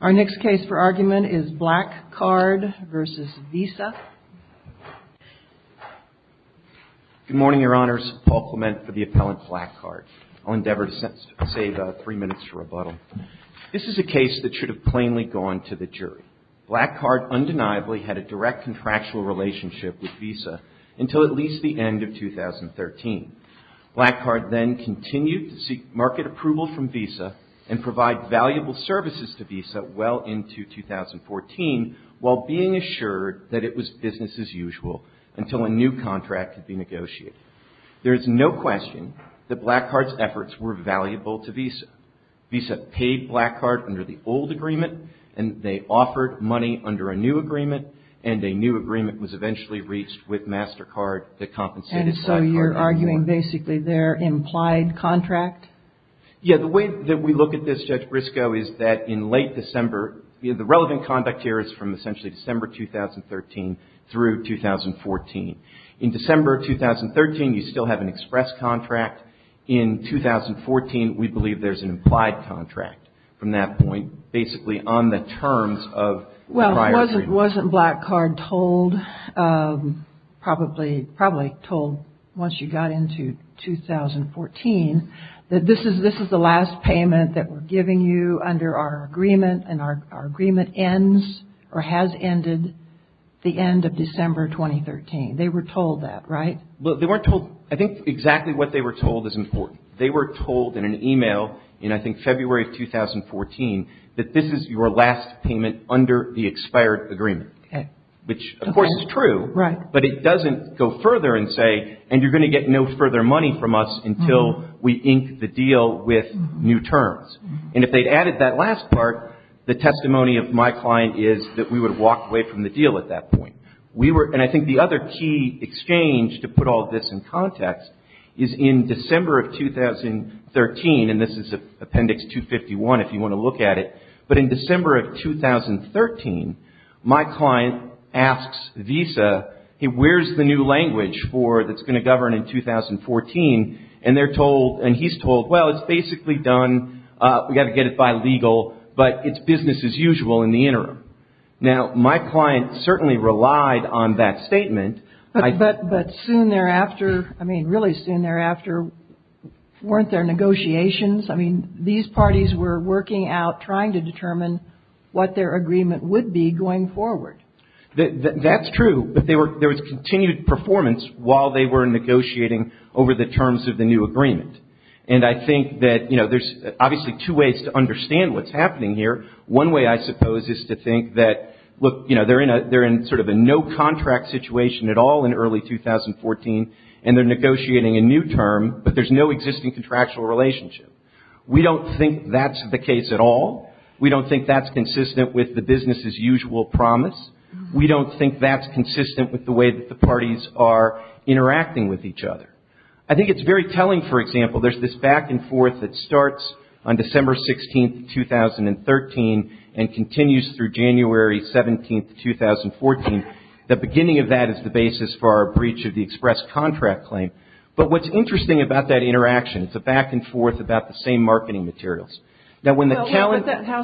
Our next case for argument is Black Card v. Visa. Good morning, Your Honors. Paul Clement for the Appellant Black Card. I'll endeavor to save three minutes for rebuttal. This is a case that should have plainly gone to the jury. Black Card undeniably had a direct contractual relationship with Visa until at least the end of 2013. Black Card then continued to seek market approval from Visa and provide valuable services to Visa. well into 2014 while being assured that it was business as usual until a new contract could be negotiated. There is no question that Black Card's efforts were valuable to Visa. Visa paid Black Card under the old agreement and they offered money under a new agreement and a new agreement was eventually reached with MasterCard that compensated for that contract. Are you arguing basically their implied contract? Yeah. The way that we look at this, Judge Briscoe, is that in late December, the relevant conduct here is from essentially December 2013 through 2014. In December 2013, you still have an express contract. In 2014, we believe there's an implied contract from that point basically on the terms of the prior agreement. Wasn't Black Card told, probably told once you got into 2014, that this is the last payment that we're giving you under our agreement and our agreement ends or has ended the end of December 2013? They were told that, right? I think exactly what they were told is important. They were told in an email in I think February of 2014 that this is your last payment under the expired agreement, which of course is true, but it doesn't go further and say and you're going to get no further money from us until we ink the deal with new terms. And if they'd added that last part, the testimony of my client is that we would have walked away from the deal at that point. And I think the other key exchange to put all this in context is in December of 2013, and this is Appendix 251 if you want to look at it, but in December of 2013, my client asks Visa, where's the new language that's going to govern in 2014? And he's told, well, it's basically done, we've got to get it by legal, but it's business as usual in the interim. Now, my client certainly relied on that statement. But soon thereafter, I mean, really soon thereafter, weren't there negotiations? I mean, these parties were working out trying to determine what their agreement would be going forward. That's true, but there was continued performance while they were negotiating over the terms of the new agreement. And I think that, you know, there's obviously two ways to understand what's happening here. One way, I suppose, is to think that, look, you know, they're in sort of a no contract situation at all in early 2014, and they're negotiating a new term, but there's no existing contractual relationship. We don't think that's the case at all. We don't think that's consistent with the business as usual promise. We don't think that's consistent with the way that the parties are interacting with each other. I think it's very telling, for example, there's this back and forth that starts on December 16, 2013, and continues through January 17, 2014. The beginning of that is the basis for our breach of the express contract claim. But what's interesting about that interaction, it's a back and forth about the same marketing materials. Now, how is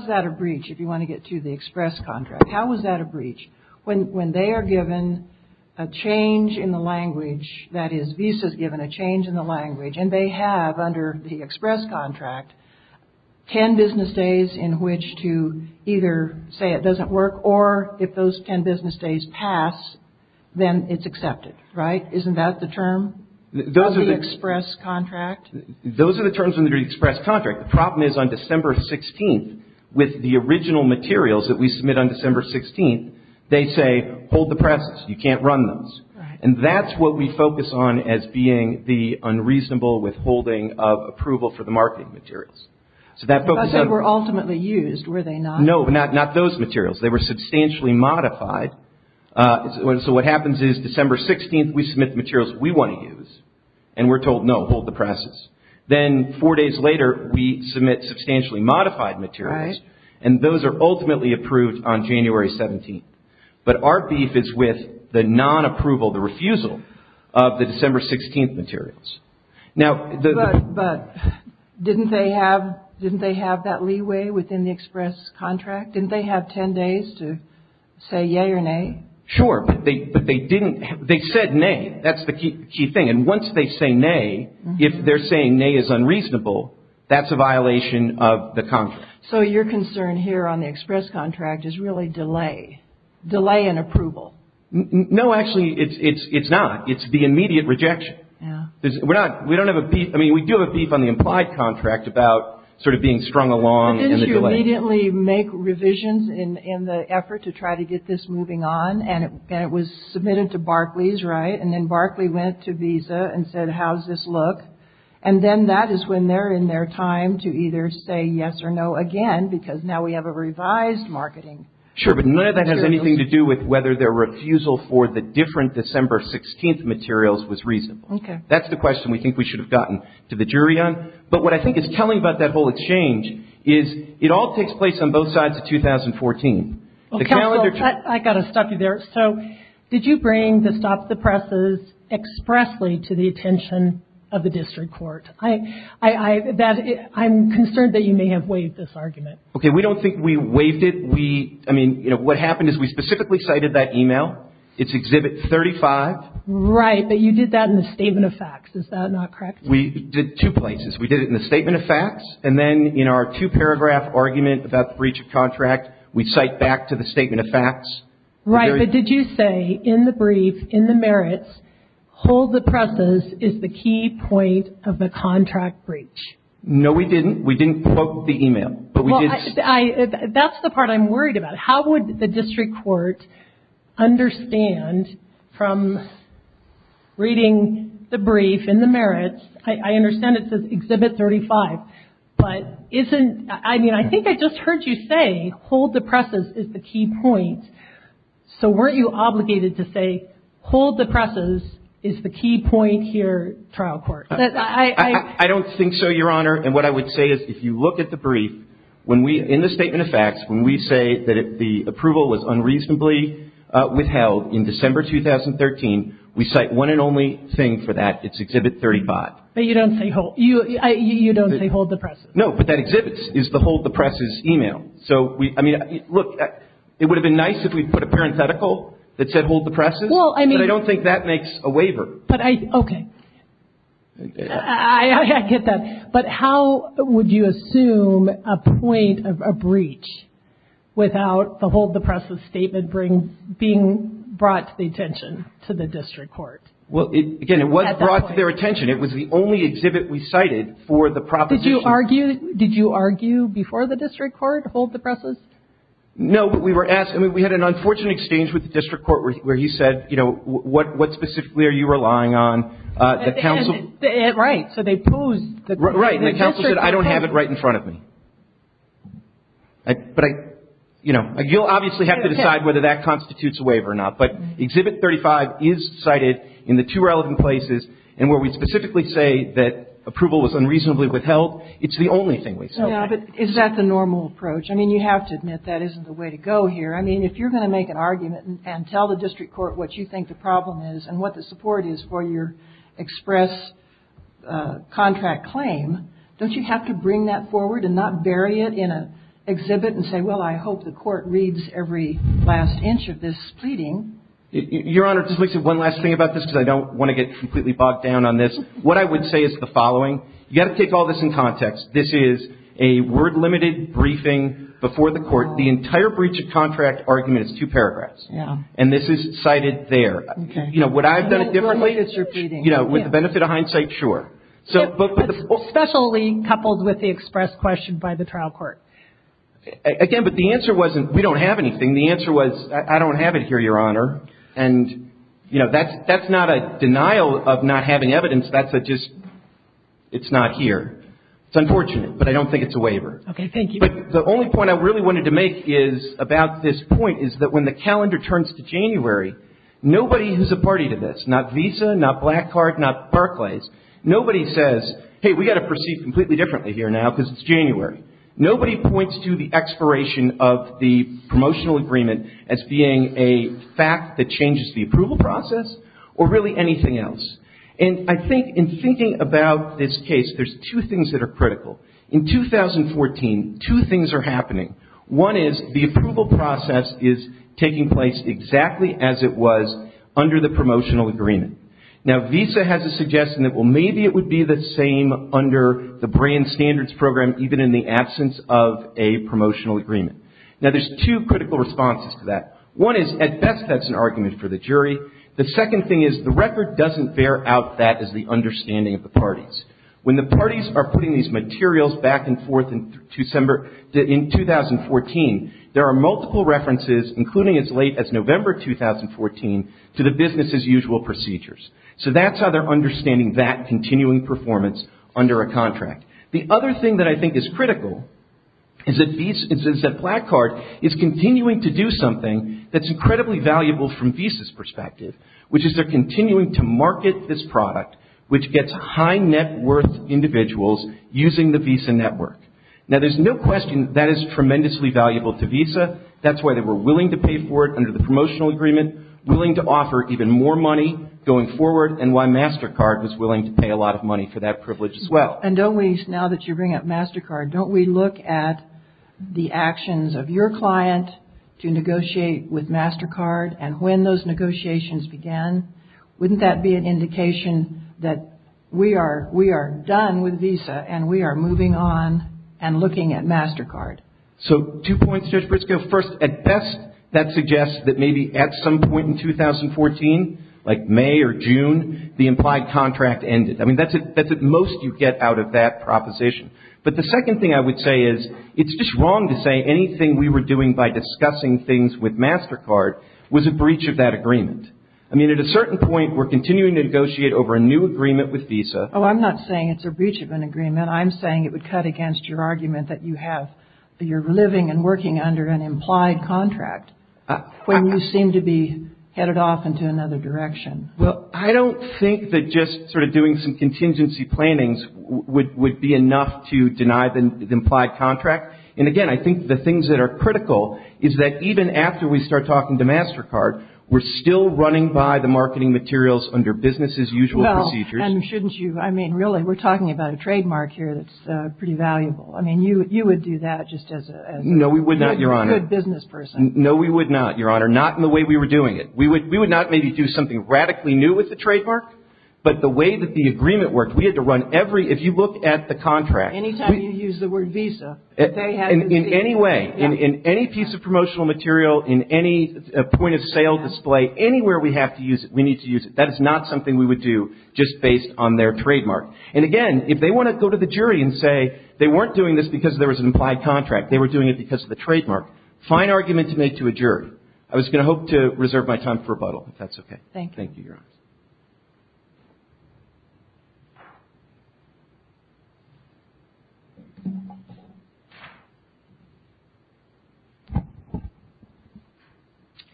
that a breach, if you want to get to the express contract? How is that a breach? When they are given a change in the language, that is, Visa is given a change in the language, and they have, under the express contract, 10 business days in which to either say it doesn't work, or if those 10 business days pass, then it's accepted. Right? Isn't that the term of the express contract? Those are the terms under the express contract. The problem is, on December 16, with the original materials that we submit on December 16, they say, hold the presses. You can't run those. Right. And that's what we focus on as being the unreasonable withholding of approval for the marketing materials. But they were ultimately used, were they not? No, not those materials. They were substantially modified. So, what happens is, December 16, we submit the materials we want to use, and we're told, no, hold the presses. Then, four days later, we submit substantially modified materials, and those are ultimately approved on January 17. But our beef is with the non-approval, the refusal, of the December 16 materials. But didn't they have that leeway within the express contract? Didn't they have 10 days to say yay or nay? Sure, but they said nay. That's the key thing. And once they say nay, if they're saying nay is unreasonable, that's a violation of the contract. So, your concern here on the express contract is really delay, delay in approval. No, actually, it's not. It's the immediate rejection. We don't have a beef. I mean, we do have a beef on the implied contract about sort of being strung along in the delay. But didn't you immediately make revisions in the effort to try to get this moving on? And it was submitted to Barclays, right? And then Barclays went to Visa and said, how's this look? And then that is when they're in their time to either say yes or no again, because now we have a revised marketing. Sure, but none of that has anything to do with whether their refusal for the different December 16 materials was reasonable. Okay. That's the question we think we should have gotten to the jury on. But what I think is telling about that whole exchange is it all takes place on both sides of 2014. Counsel, I've got to stop you there. So did you bring the stop the presses expressly to the attention of the district court? I'm concerned that you may have waived this argument. Okay, we don't think we waived it. I mean, what happened is we specifically cited that email. It's Exhibit 35. Right, but you did that in the statement of facts. Is that not correct? We did it two places. We did it in the statement of facts, and then in our two-paragraph argument about the breach of contract, we cite back to the statement of facts. Right, but did you say in the brief, in the merits, hold the presses is the key point of the contract breach? No, we didn't. We didn't quote the email. That's the part I'm worried about. How would the district court understand from reading the brief in the merits? I understand it says Exhibit 35. But isn't, I mean, I think I just heard you say hold the presses is the key point. So weren't you obligated to say hold the presses is the key point here, trial court? I don't think so, Your Honor, and what I would say is if you look at the brief, when we, in the statement of facts, when we say that the approval was unreasonably withheld in December 2013, we cite one and only thing for that. It's Exhibit 35. But you don't say hold, you don't say hold the presses. No, but that Exhibit is the hold the presses email. So, I mean, look, it would have been nice if we put a parenthetical that said hold the presses. Well, I mean. But I don't think that makes a waiver. But I, okay. I get that. But how would you assume a point of a breach without the hold the presses statement being brought to the attention to the district court? Well, again, it was brought to their attention. It was the only exhibit we cited for the proposition. Did you argue before the district court hold the presses? No, but we were asked. I mean, we had an unfortunate exchange with the district court where he said, you know, what specifically are you relying on? The counsel. Right. So they posed. Right. And the counsel said I don't have it right in front of me. But I, you know, you'll obviously have to decide whether that constitutes a waiver or not. But Exhibit 35 is cited in the two relevant places. And where we specifically say that approval was unreasonably withheld, it's the only thing we cited. Yeah, but is that the normal approach? I mean, you have to admit that isn't the way to go here. I mean, if you're going to make an argument and tell the district court what you think the problem is and what the support is for your express contract claim, don't you have to bring that forward and not bury it in an exhibit and say, well, I hope the court reads every last inch of this pleading? Your Honor, just one last thing about this, because I don't want to get completely bogged down on this. What I would say is the following. You've got to take all this in context. This is a word-limited briefing before the court. The entire breach of contract argument is two paragraphs. Yeah. And this is cited there. Okay. You know, would I have done it differently? It's repeating. You know, with the benefit of hindsight, sure. But especially coupled with the express question by the trial court. Again, but the answer wasn't we don't have anything. The answer was I don't have it here, Your Honor. And, you know, that's not a denial of not having evidence. That's a just it's not here. It's unfortunate. But I don't think it's a waiver. Okay. Thank you. But the only point I really wanted to make is about this point is that when the calendar turns to January, nobody who's a party to this, not Visa, not Black Card, not Barclays, nobody says, hey, we've got to proceed completely differently here now because it's January. Nobody points to the expiration of the promotional agreement as being a fact that changes the approval process or really anything else. And I think in thinking about this case, there's two things that are critical. In 2014, two things are happening. One is the approval process is taking place exactly as it was under the promotional agreement. Now, Visa has a suggestion that, well, maybe it would be the same under the brand standards program even in the absence of a promotional agreement. Now, there's two critical responses to that. One is, at best, that's an argument for the jury. The second thing is the record doesn't bear out that as the understanding of the parties. When the parties are putting these materials back and forth in December in 2014, there are multiple references, including as late as November 2014, to the business as usual procedures. So that's how they're understanding that continuing performance under a contract. The other thing that I think is critical is that Black Card is continuing to do something that's incredibly valuable from Visa's perspective, which is they're continuing to market this product, which gets high net worth individuals using the Visa network. Now, there's no question that is tremendously valuable to Visa. That's why they were willing to pay for it under the promotional agreement, willing to offer even more money going forward, and why MasterCard was willing to pay a lot of money for that privilege as well. And don't we, now that you bring up MasterCard, don't we look at the actions of your client to negotiate with MasterCard and when those negotiations began? Wouldn't that be an indication that we are done with Visa and we are moving on and looking at MasterCard? So two points, Judge Briscoe. First, at best, that suggests that maybe at some point in 2014, like May or June, the implied contract ended. I mean, that's at most you get out of that proposition. But the second thing I would say is it's just wrong to say anything we were doing by discussing things with MasterCard was a breach of that agreement. I mean, at a certain point, we're continuing to negotiate over a new agreement with Visa. I'm saying it would cut against your argument that you're living and working under an implied contract when you seem to be headed off into another direction. Well, I don't think that just sort of doing some contingency plannings would be enough to deny the implied contract. And again, I think the things that are critical is that even after we start talking to MasterCard, we're still running by the marketing materials under business-as-usual procedures. And shouldn't you? I mean, really, we're talking about a trademark here that's pretty valuable. I mean, you would do that just as a good business person. No, we would not, Your Honor. No, we would not, Your Honor. Not in the way we were doing it. We would not maybe do something radically new with the trademark, but the way that the agreement worked, we had to run every – if you look at the contract. Any time you use the word Visa, they had to see it. In any way. In any piece of promotional material, in any point-of-sale display, anywhere we have to use it, we need to use it. That is not something we would do just based on their trademark. And again, if they want to go to the jury and say they weren't doing this because there was an implied contract, they were doing it because of the trademark, fine argument to make to a jury. I was going to hope to reserve my time for rebuttal, if that's okay. Thank you.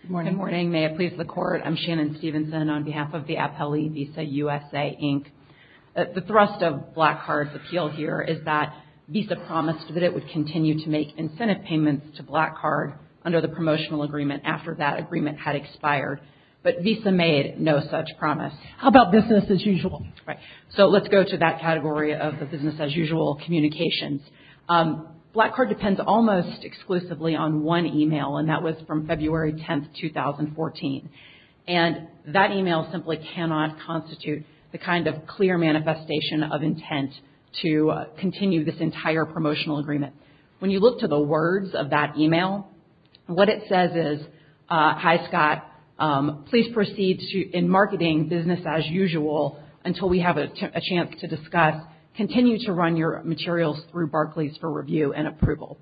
Good morning. Good morning. May it please the Court, I'm Shannon Stevenson on behalf of the Appellee Visa USA, Inc. The thrust of Black Card's appeal here is that Visa promised that it would continue to make incentive payments to Black Card under the promotional agreement after that agreement had expired. But Visa made no such promise. How about business as usual? Right. So let's go to that category of the business-as-usual communications. Black Card depends almost exclusively on one email, and that was from February 10, 2014. And that email simply cannot constitute the kind of clear manifestation of intent to continue this entire promotional agreement. When you look to the words of that email, what it says is, Hi, Scott, please proceed in marketing business as usual until we have a chance to discuss. Continue to run your materials through Barclays for review and approval.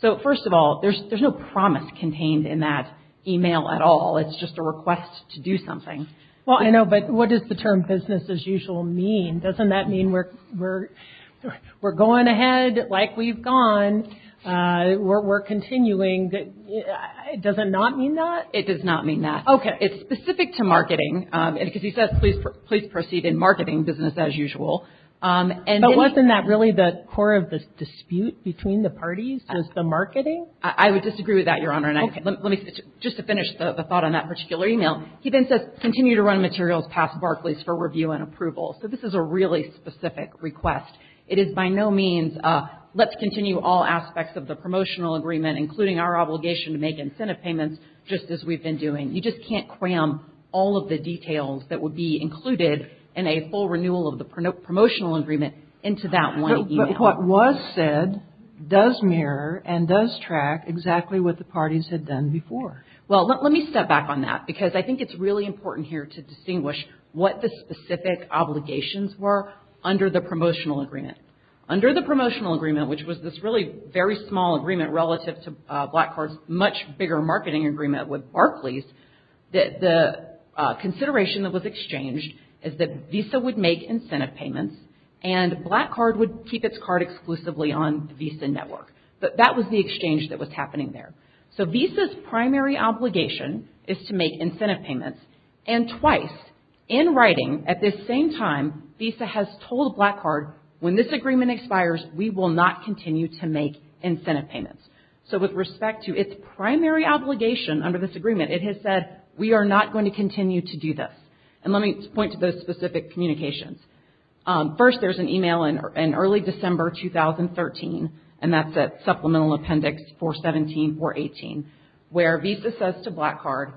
So first of all, there's no promise contained in that email at all. It's just a request to do something. Well, I know, but what does the term business as usual mean? Doesn't that mean we're going ahead like we've gone? We're continuing. Does it not mean that? It does not mean that. Okay. It's specific to marketing. Because he says, please proceed in marketing business as usual. But wasn't that really the core of the dispute between the parties, was the marketing? I would disagree with that, Your Honor. Okay. Just to finish the thought on that particular email. He then says, continue to run materials past Barclays for review and approval. So this is a really specific request. It is by no means, let's continue all aspects of the promotional agreement, including our obligation to make incentive payments, just as we've been doing. You just can't cram all of the details that would be included in a full renewal of the promotional agreement into that one email. But what was said does mirror and does track exactly what the parties had done before. Well, let me step back on that, because I think it's really important here to distinguish what the specific obligations were under the promotional agreement. Under the promotional agreement, which was this really very small agreement relative to Black Card's much bigger marketing agreement with Barclays, the consideration that was exchanged is that Visa would make incentive payments and Black Card would keep its card exclusively on Visa Network. But that was the exchange that was happening there. So Visa's primary obligation is to make incentive payments. And twice, in writing, at this same time, Visa has told Black Card, when this agreement expires, we will not continue to make incentive payments. So with respect to its primary obligation under this agreement, it has said we are not going to continue to do this. And let me point to those specific communications. First, there's an email in early December 2013, and that's at Supplemental Appendix 417, 418, where Visa says to Black Card,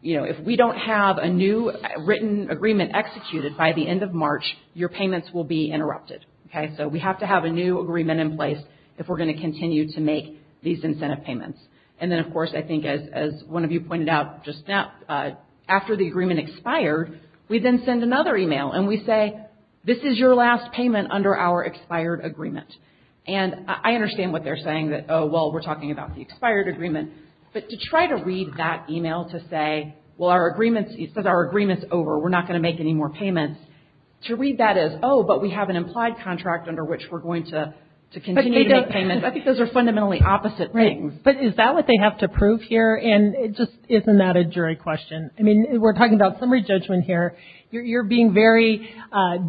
you know, if we don't have a new written agreement executed by the end of March, your payments will be interrupted, okay? So we have to have a new agreement in place if we're going to continue to make these incentive payments. And then, of course, I think as one of you pointed out just now, after the agreement expired, we then send another email and we say, this is your last payment under our expired agreement. And I understand what they're saying, that, oh, well, we're talking about the expired agreement. But to try to read that email to say, well, our agreement, it says our agreement's over. We're not going to make any more payments. To read that as, oh, but we have an implied contract under which we're going to continue to make payments. I think those are fundamentally opposite things. Right. But is that what they have to prove here? And just isn't that a jury question? I mean, we're talking about summary judgment here. You're being very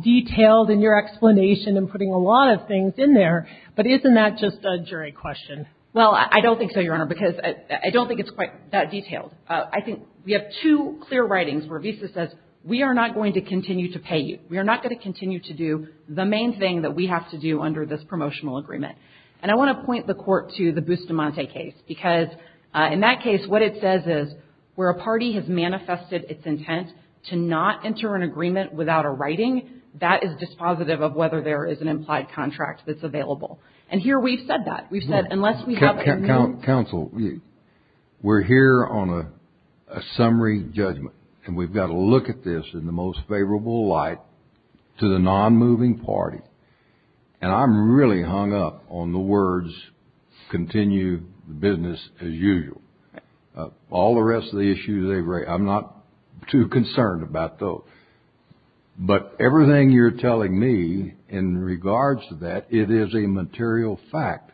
detailed in your explanation and putting a lot of things in there. But isn't that just a jury question? Well, I don't think so, Your Honor, because I don't think it's quite that detailed. I think we have two clear writings where Visa says, we are not going to continue to pay you. We are not going to continue to do the main thing that we have to do under this promotional agreement. And I want to point the Court to the Bustamante case, because in that case, what it says is where a party has manifested its intent to not enter an agreement without a writing, that is dispositive of whether there is an implied contract that's available. And here we've said that. Counsel, we're here on a summary judgment, and we've got to look at this in the most favorable light to the non-moving party. And I'm really hung up on the words, continue the business as usual. All the rest of the issues, I'm not too concerned about those. But everything you're telling me in regards to that, it is a material fact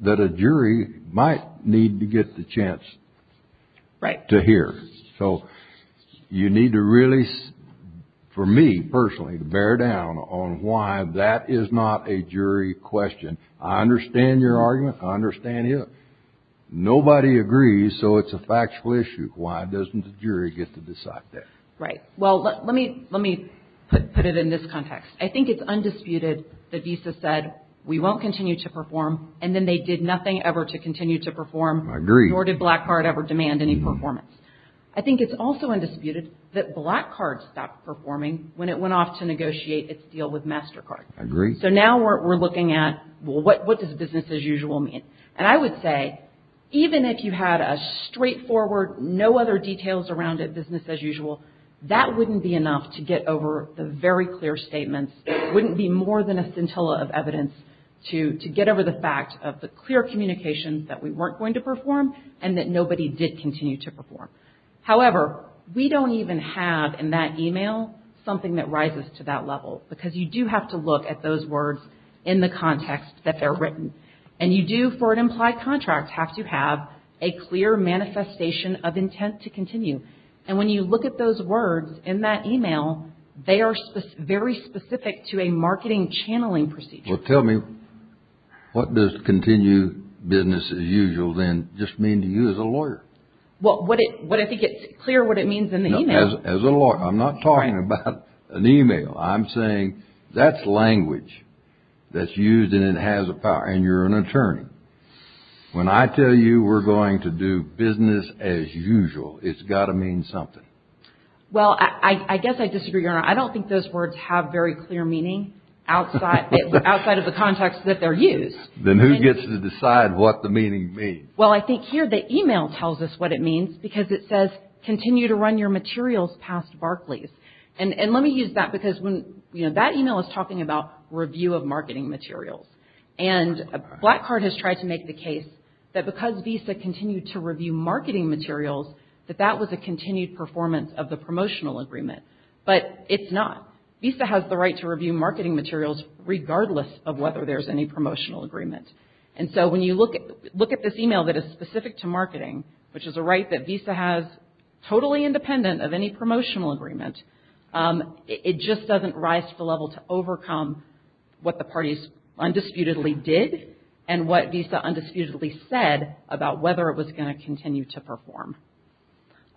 that a jury might need to get the chance to hear. So you need to really, for me personally, bear down on why that is not a jury question. I understand your argument. I understand it. Nobody agrees, so it's a factual issue. Why doesn't the jury get to decide that? Right. Well, let me put it in this context. I think it's undisputed that Visa said, we won't continue to perform, and then they did nothing ever to continue to perform. I agree. Nor did Black Card ever demand any performance. I think it's also undisputed that Black Card stopped performing when it went off to negotiate its deal with MasterCard. I agree. So now we're looking at, well, what does business as usual mean? And I would say, even if you had a straightforward, no other details around business as usual, that wouldn't be enough to get over the very clear statements. It wouldn't be more than a scintilla of evidence to get over the fact of the clear communications that we weren't going to perform and that nobody did continue to perform. However, we don't even have in that email something that rises to that level, because you do have to look at those words in the context that they're written. And you do, for an implied contract, have to have a clear manifestation of intent to continue. And when you look at those words in that email, they are very specific to a marketing channeling procedure. Well, tell me, what does continue business as usual then just mean to you as a lawyer? Well, I think it's clear what it means in the email. No, as a lawyer, I'm not talking about an email. I'm saying that's language that's used and it has a power, and you're an attorney. When I tell you we're going to do business as usual, it's got to mean something. Well, I guess I disagree, Your Honor. I don't think those words have very clear meaning outside of the context that they're used. Then who gets to decide what the meaning means? Well, I think here the email tells us what it means, because it says continue to run your materials past Barclays. And let me use that, because that email is talking about review of marketing materials. And Black Card has tried to make the case that because Visa continued to review marketing materials, that that was a continued performance of the promotional agreement. But it's not. Visa has the right to review marketing materials regardless of whether there's any promotional agreement. And so when you look at this email that is specific to marketing, which is a right that Visa has totally independent of any promotional agreement, it just doesn't rise to the level to overcome what the parties undisputedly did and what Visa undisputedly said about whether it was going to continue to perform.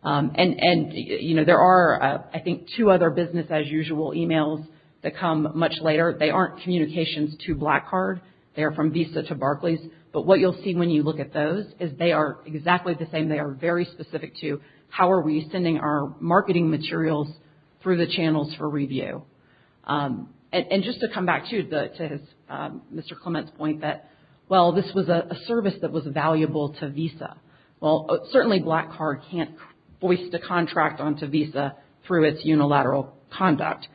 And, you know, there are, I think, two other business as usual emails that come much later. They aren't communications to Black Card. They are from Visa to Barclays. But what you'll see when you look at those is they are exactly the same. They are very specific to how are we sending our marketing materials through the channels for review. And just to come back to Mr. Clement's point that, well, this was a service that was valuable to Visa. Well, certainly Black Card can't voice the contract onto Visa through its unilateral conduct.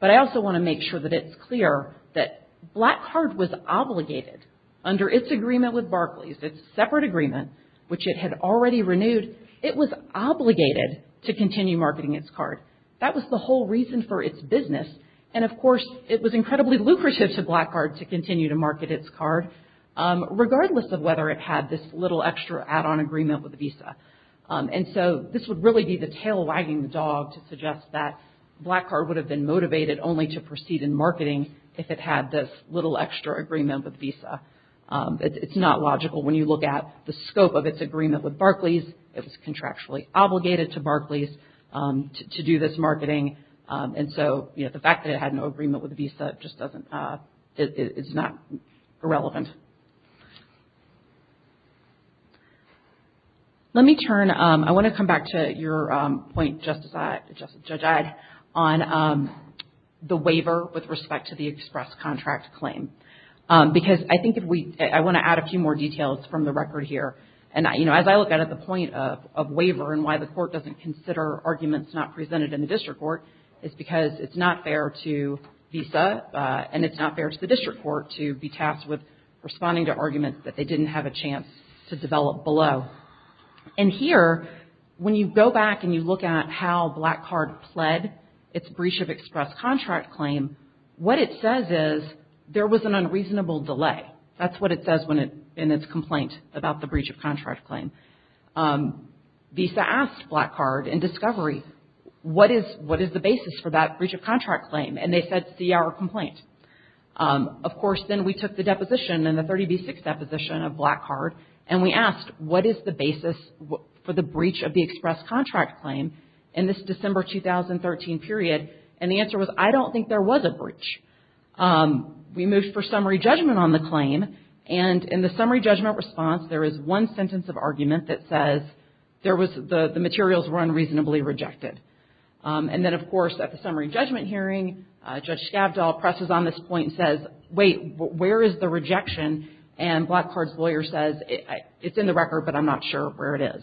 But I also want to make sure that it's clear that Black Card was obligated under its agreement with Barclays, its separate agreement, which it had already renewed, it was obligated to continue marketing its card. That was the whole reason for its business. And, of course, it was incredibly lucrative to Black Card to continue to market its card, regardless of whether it had this little extra add-on agreement with Visa. And so this would really be the tail wagging the dog to suggest that Black Card would have been motivated only to proceed in marketing if it had this little extra agreement with Visa. It's not logical when you look at the scope of its agreement with Barclays. It was contractually obligated to Barclays to do this marketing. And so, you know, the fact that it had no agreement with Visa just doesn't, it's not irrelevant. Let me turn, I want to come back to your point, Judge Eyde, on the waiver with respect to the express contract claim. Because I think if we, I want to add a few more details from the record here. And, you know, as I look at it, the point of waiver and why the court doesn't consider arguments not presented in the district court is because it's not fair to Visa and it's not fair to the district court to be tasked with responding to arguments that they didn't have a chance to develop below. And here, when you go back and you look at how Black Card pled its breach of express contract claim, what it says is there was an unreasonable delay. That's what it says in its complaint about the breach of contract claim. Visa asked Black Card in discovery, what is the basis for that breach of contract claim? And they said, see our complaint. Of course, then we took the deposition and the 30B6 deposition of Black Card and we asked, what is the basis for the breach of the express contract claim in this December 2013 period? And the answer was, I don't think there was a breach. We moved for summary judgment on the claim. And in the summary judgment response, there is one sentence of argument that says there was, the materials were unreasonably rejected. And then, of course, at the summary judgment hearing, Judge Scavdall presses on this point and says, wait, where is the rejection? And Black Card's lawyer says, it's in the record, but I'm not sure where it is.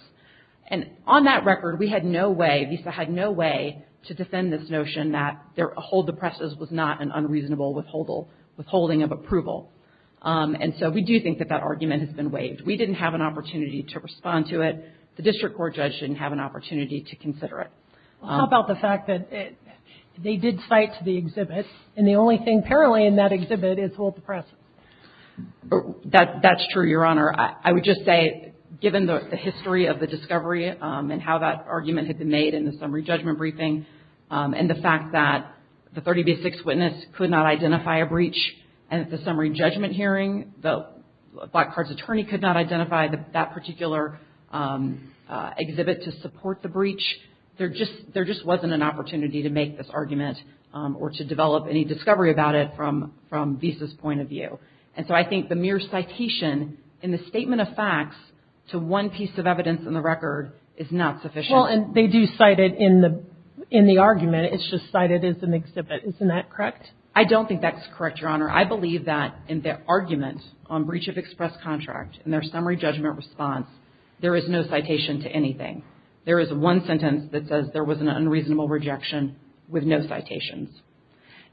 And on that record, we had no way, Visa had no way to defend this notion that their hold the presses was not an unreasonable withholding of approval. And so we do think that that argument has been waived. We didn't have an opportunity to respond to it. The district court judge didn't have an opportunity to consider it. Well, how about the fact that they did cite the exhibit and the only thing apparently in that exhibit is hold the press? That's true, Your Honor. I would just say, given the history of the discovery and how that argument had been made in the summary judgment briefing and the fact that the 30B6 witness could not identify a breach at the summary judgment hearing, the Black Card's attorney could not identify that particular exhibit to support the breach. There just wasn't an opportunity to make this argument or to develop any discovery about it from Visa's point of view. And so I think the mere citation in the statement of facts to one piece of evidence in the record is not sufficient. Well, and they do cite it in the argument. It's just cited as an exhibit. Isn't that correct? I don't think that's correct, Your Honor. I believe that in the argument on breach of express contract and their summary judgment response, there is no citation to anything. There is one sentence that says there was an unreasonable rejection with no citations.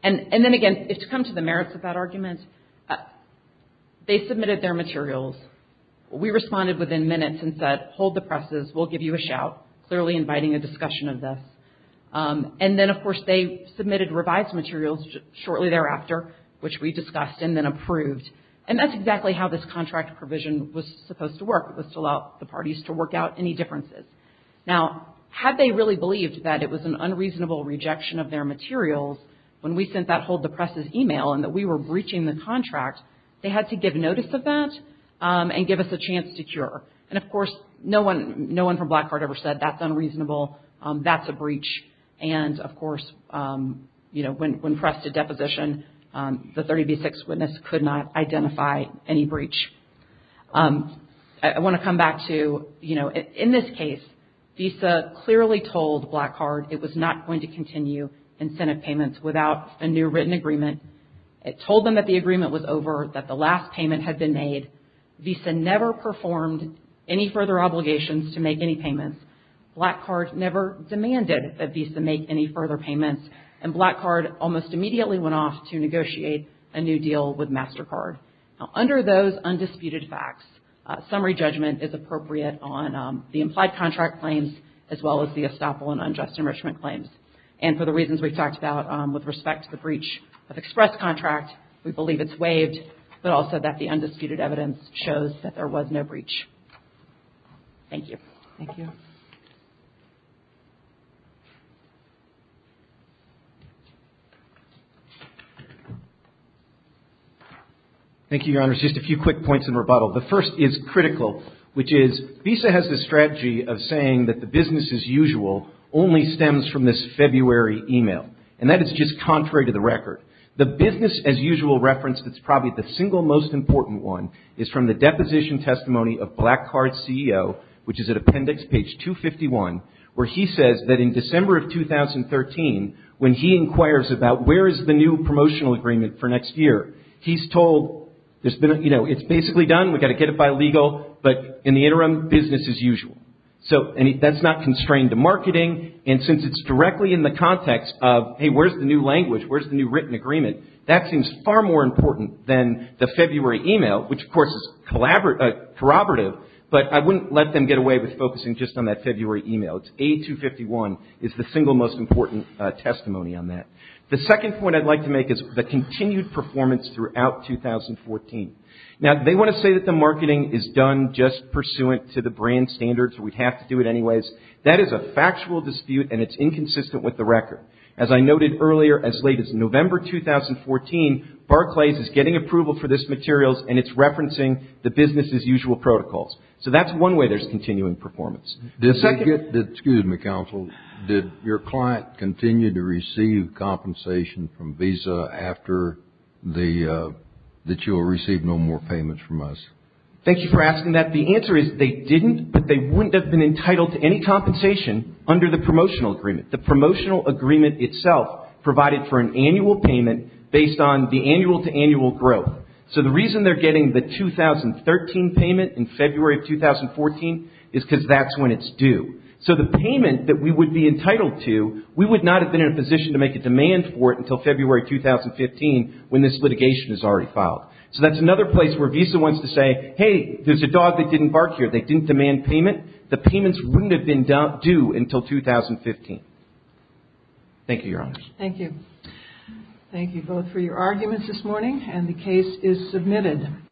And then again, to come to the merits of that argument, they submitted their materials. We responded within minutes and said, hold the presses. We'll give you a shout, clearly inviting a discussion of this. And then, of course, they submitted revised materials shortly thereafter, which we discussed and then approved. And that's exactly how this contract provision was supposed to work, was to allow the parties to work out any differences. Now, had they really believed that it was an unreasonable rejection of their materials, when we sent that hold the presses email and that we were breaching the contract, they had to give notice of that and give us a chance to cure. And, of course, no one from Blackheart ever said that's unreasonable, that's a breach. And, of course, you know, when pressed to deposition, the 30B6 witness could not identify any breach. I want to come back to, you know, in this case, Visa clearly told Blackheart it was not going to continue incentive payments without a new written agreement. It told them that the agreement was over, that the last payment had been made. Visa never performed any further obligations to make any payments. Blackheart never demanded that Visa make any further payments. And Blackheart almost immediately went off to negotiate a new deal with MasterCard. Now, under those undisputed facts, summary judgment is appropriate on the implied contract claims, as well as the estoppel and unjust enrichment claims. And for the reasons we talked about with respect to the breach of express contract, we believe it's waived, but also that the undisputed evidence shows that there was no breach. Thank you. Thank you. Thank you, Your Honors. Just a few quick points in rebuttal. The first is critical, which is, Visa has the strategy of saying that the business as usual only stems from this February email. And that is just contrary to the record. The business as usual reference that's probably the single most important one is from the deposition testimony of Blackheart's CEO, which is at appendix page 251, where he says that in December of 2013, when he inquires about where is the new promotional agreement for next year, he's told, you know, it's basically done, we've got to get it by legal, but in the interim, business as usual. So that's not constrained to marketing, and since it's directly in the context of, hey, where's the new language, where's the new written agreement, that seems far more important than the February email, which, of course, is corroborative, but I wouldn't let them get away with focusing just on that February email. It's A251 is the single most important testimony on that. The second point I'd like to make is the continued performance throughout 2014. Now, they want to say that the marketing is done just pursuant to the brand standards, or we'd have to do it anyways. That is a factual dispute, and it's inconsistent with the record. As I noted earlier, as late as November 2014, Barclays is getting approval for this materials, and it's referencing the business as usual protocols. So that's one way there's continuing performance. Excuse me, counsel. Did your client continue to receive compensation from Visa after that you will receive no more payments from us? Thank you for asking that. The answer is they didn't, but they wouldn't have been entitled to any compensation under the promotional agreement. The promotional agreement itself provided for an annual payment based on the annual-to-annual growth. So the reason they're getting the 2013 payment in February of 2014 is because that's when it's due. So the payment that we would be entitled to, we would not have been in a position to make a demand for it until February 2015 when this litigation is already filed. So that's another place where Visa wants to say, hey, there's a dog that didn't bark here. They didn't demand payment. The payments wouldn't have been due until 2015. Thank you, Your Honor. Thank you. Thank you both for your arguments this morning, and the case is submitted.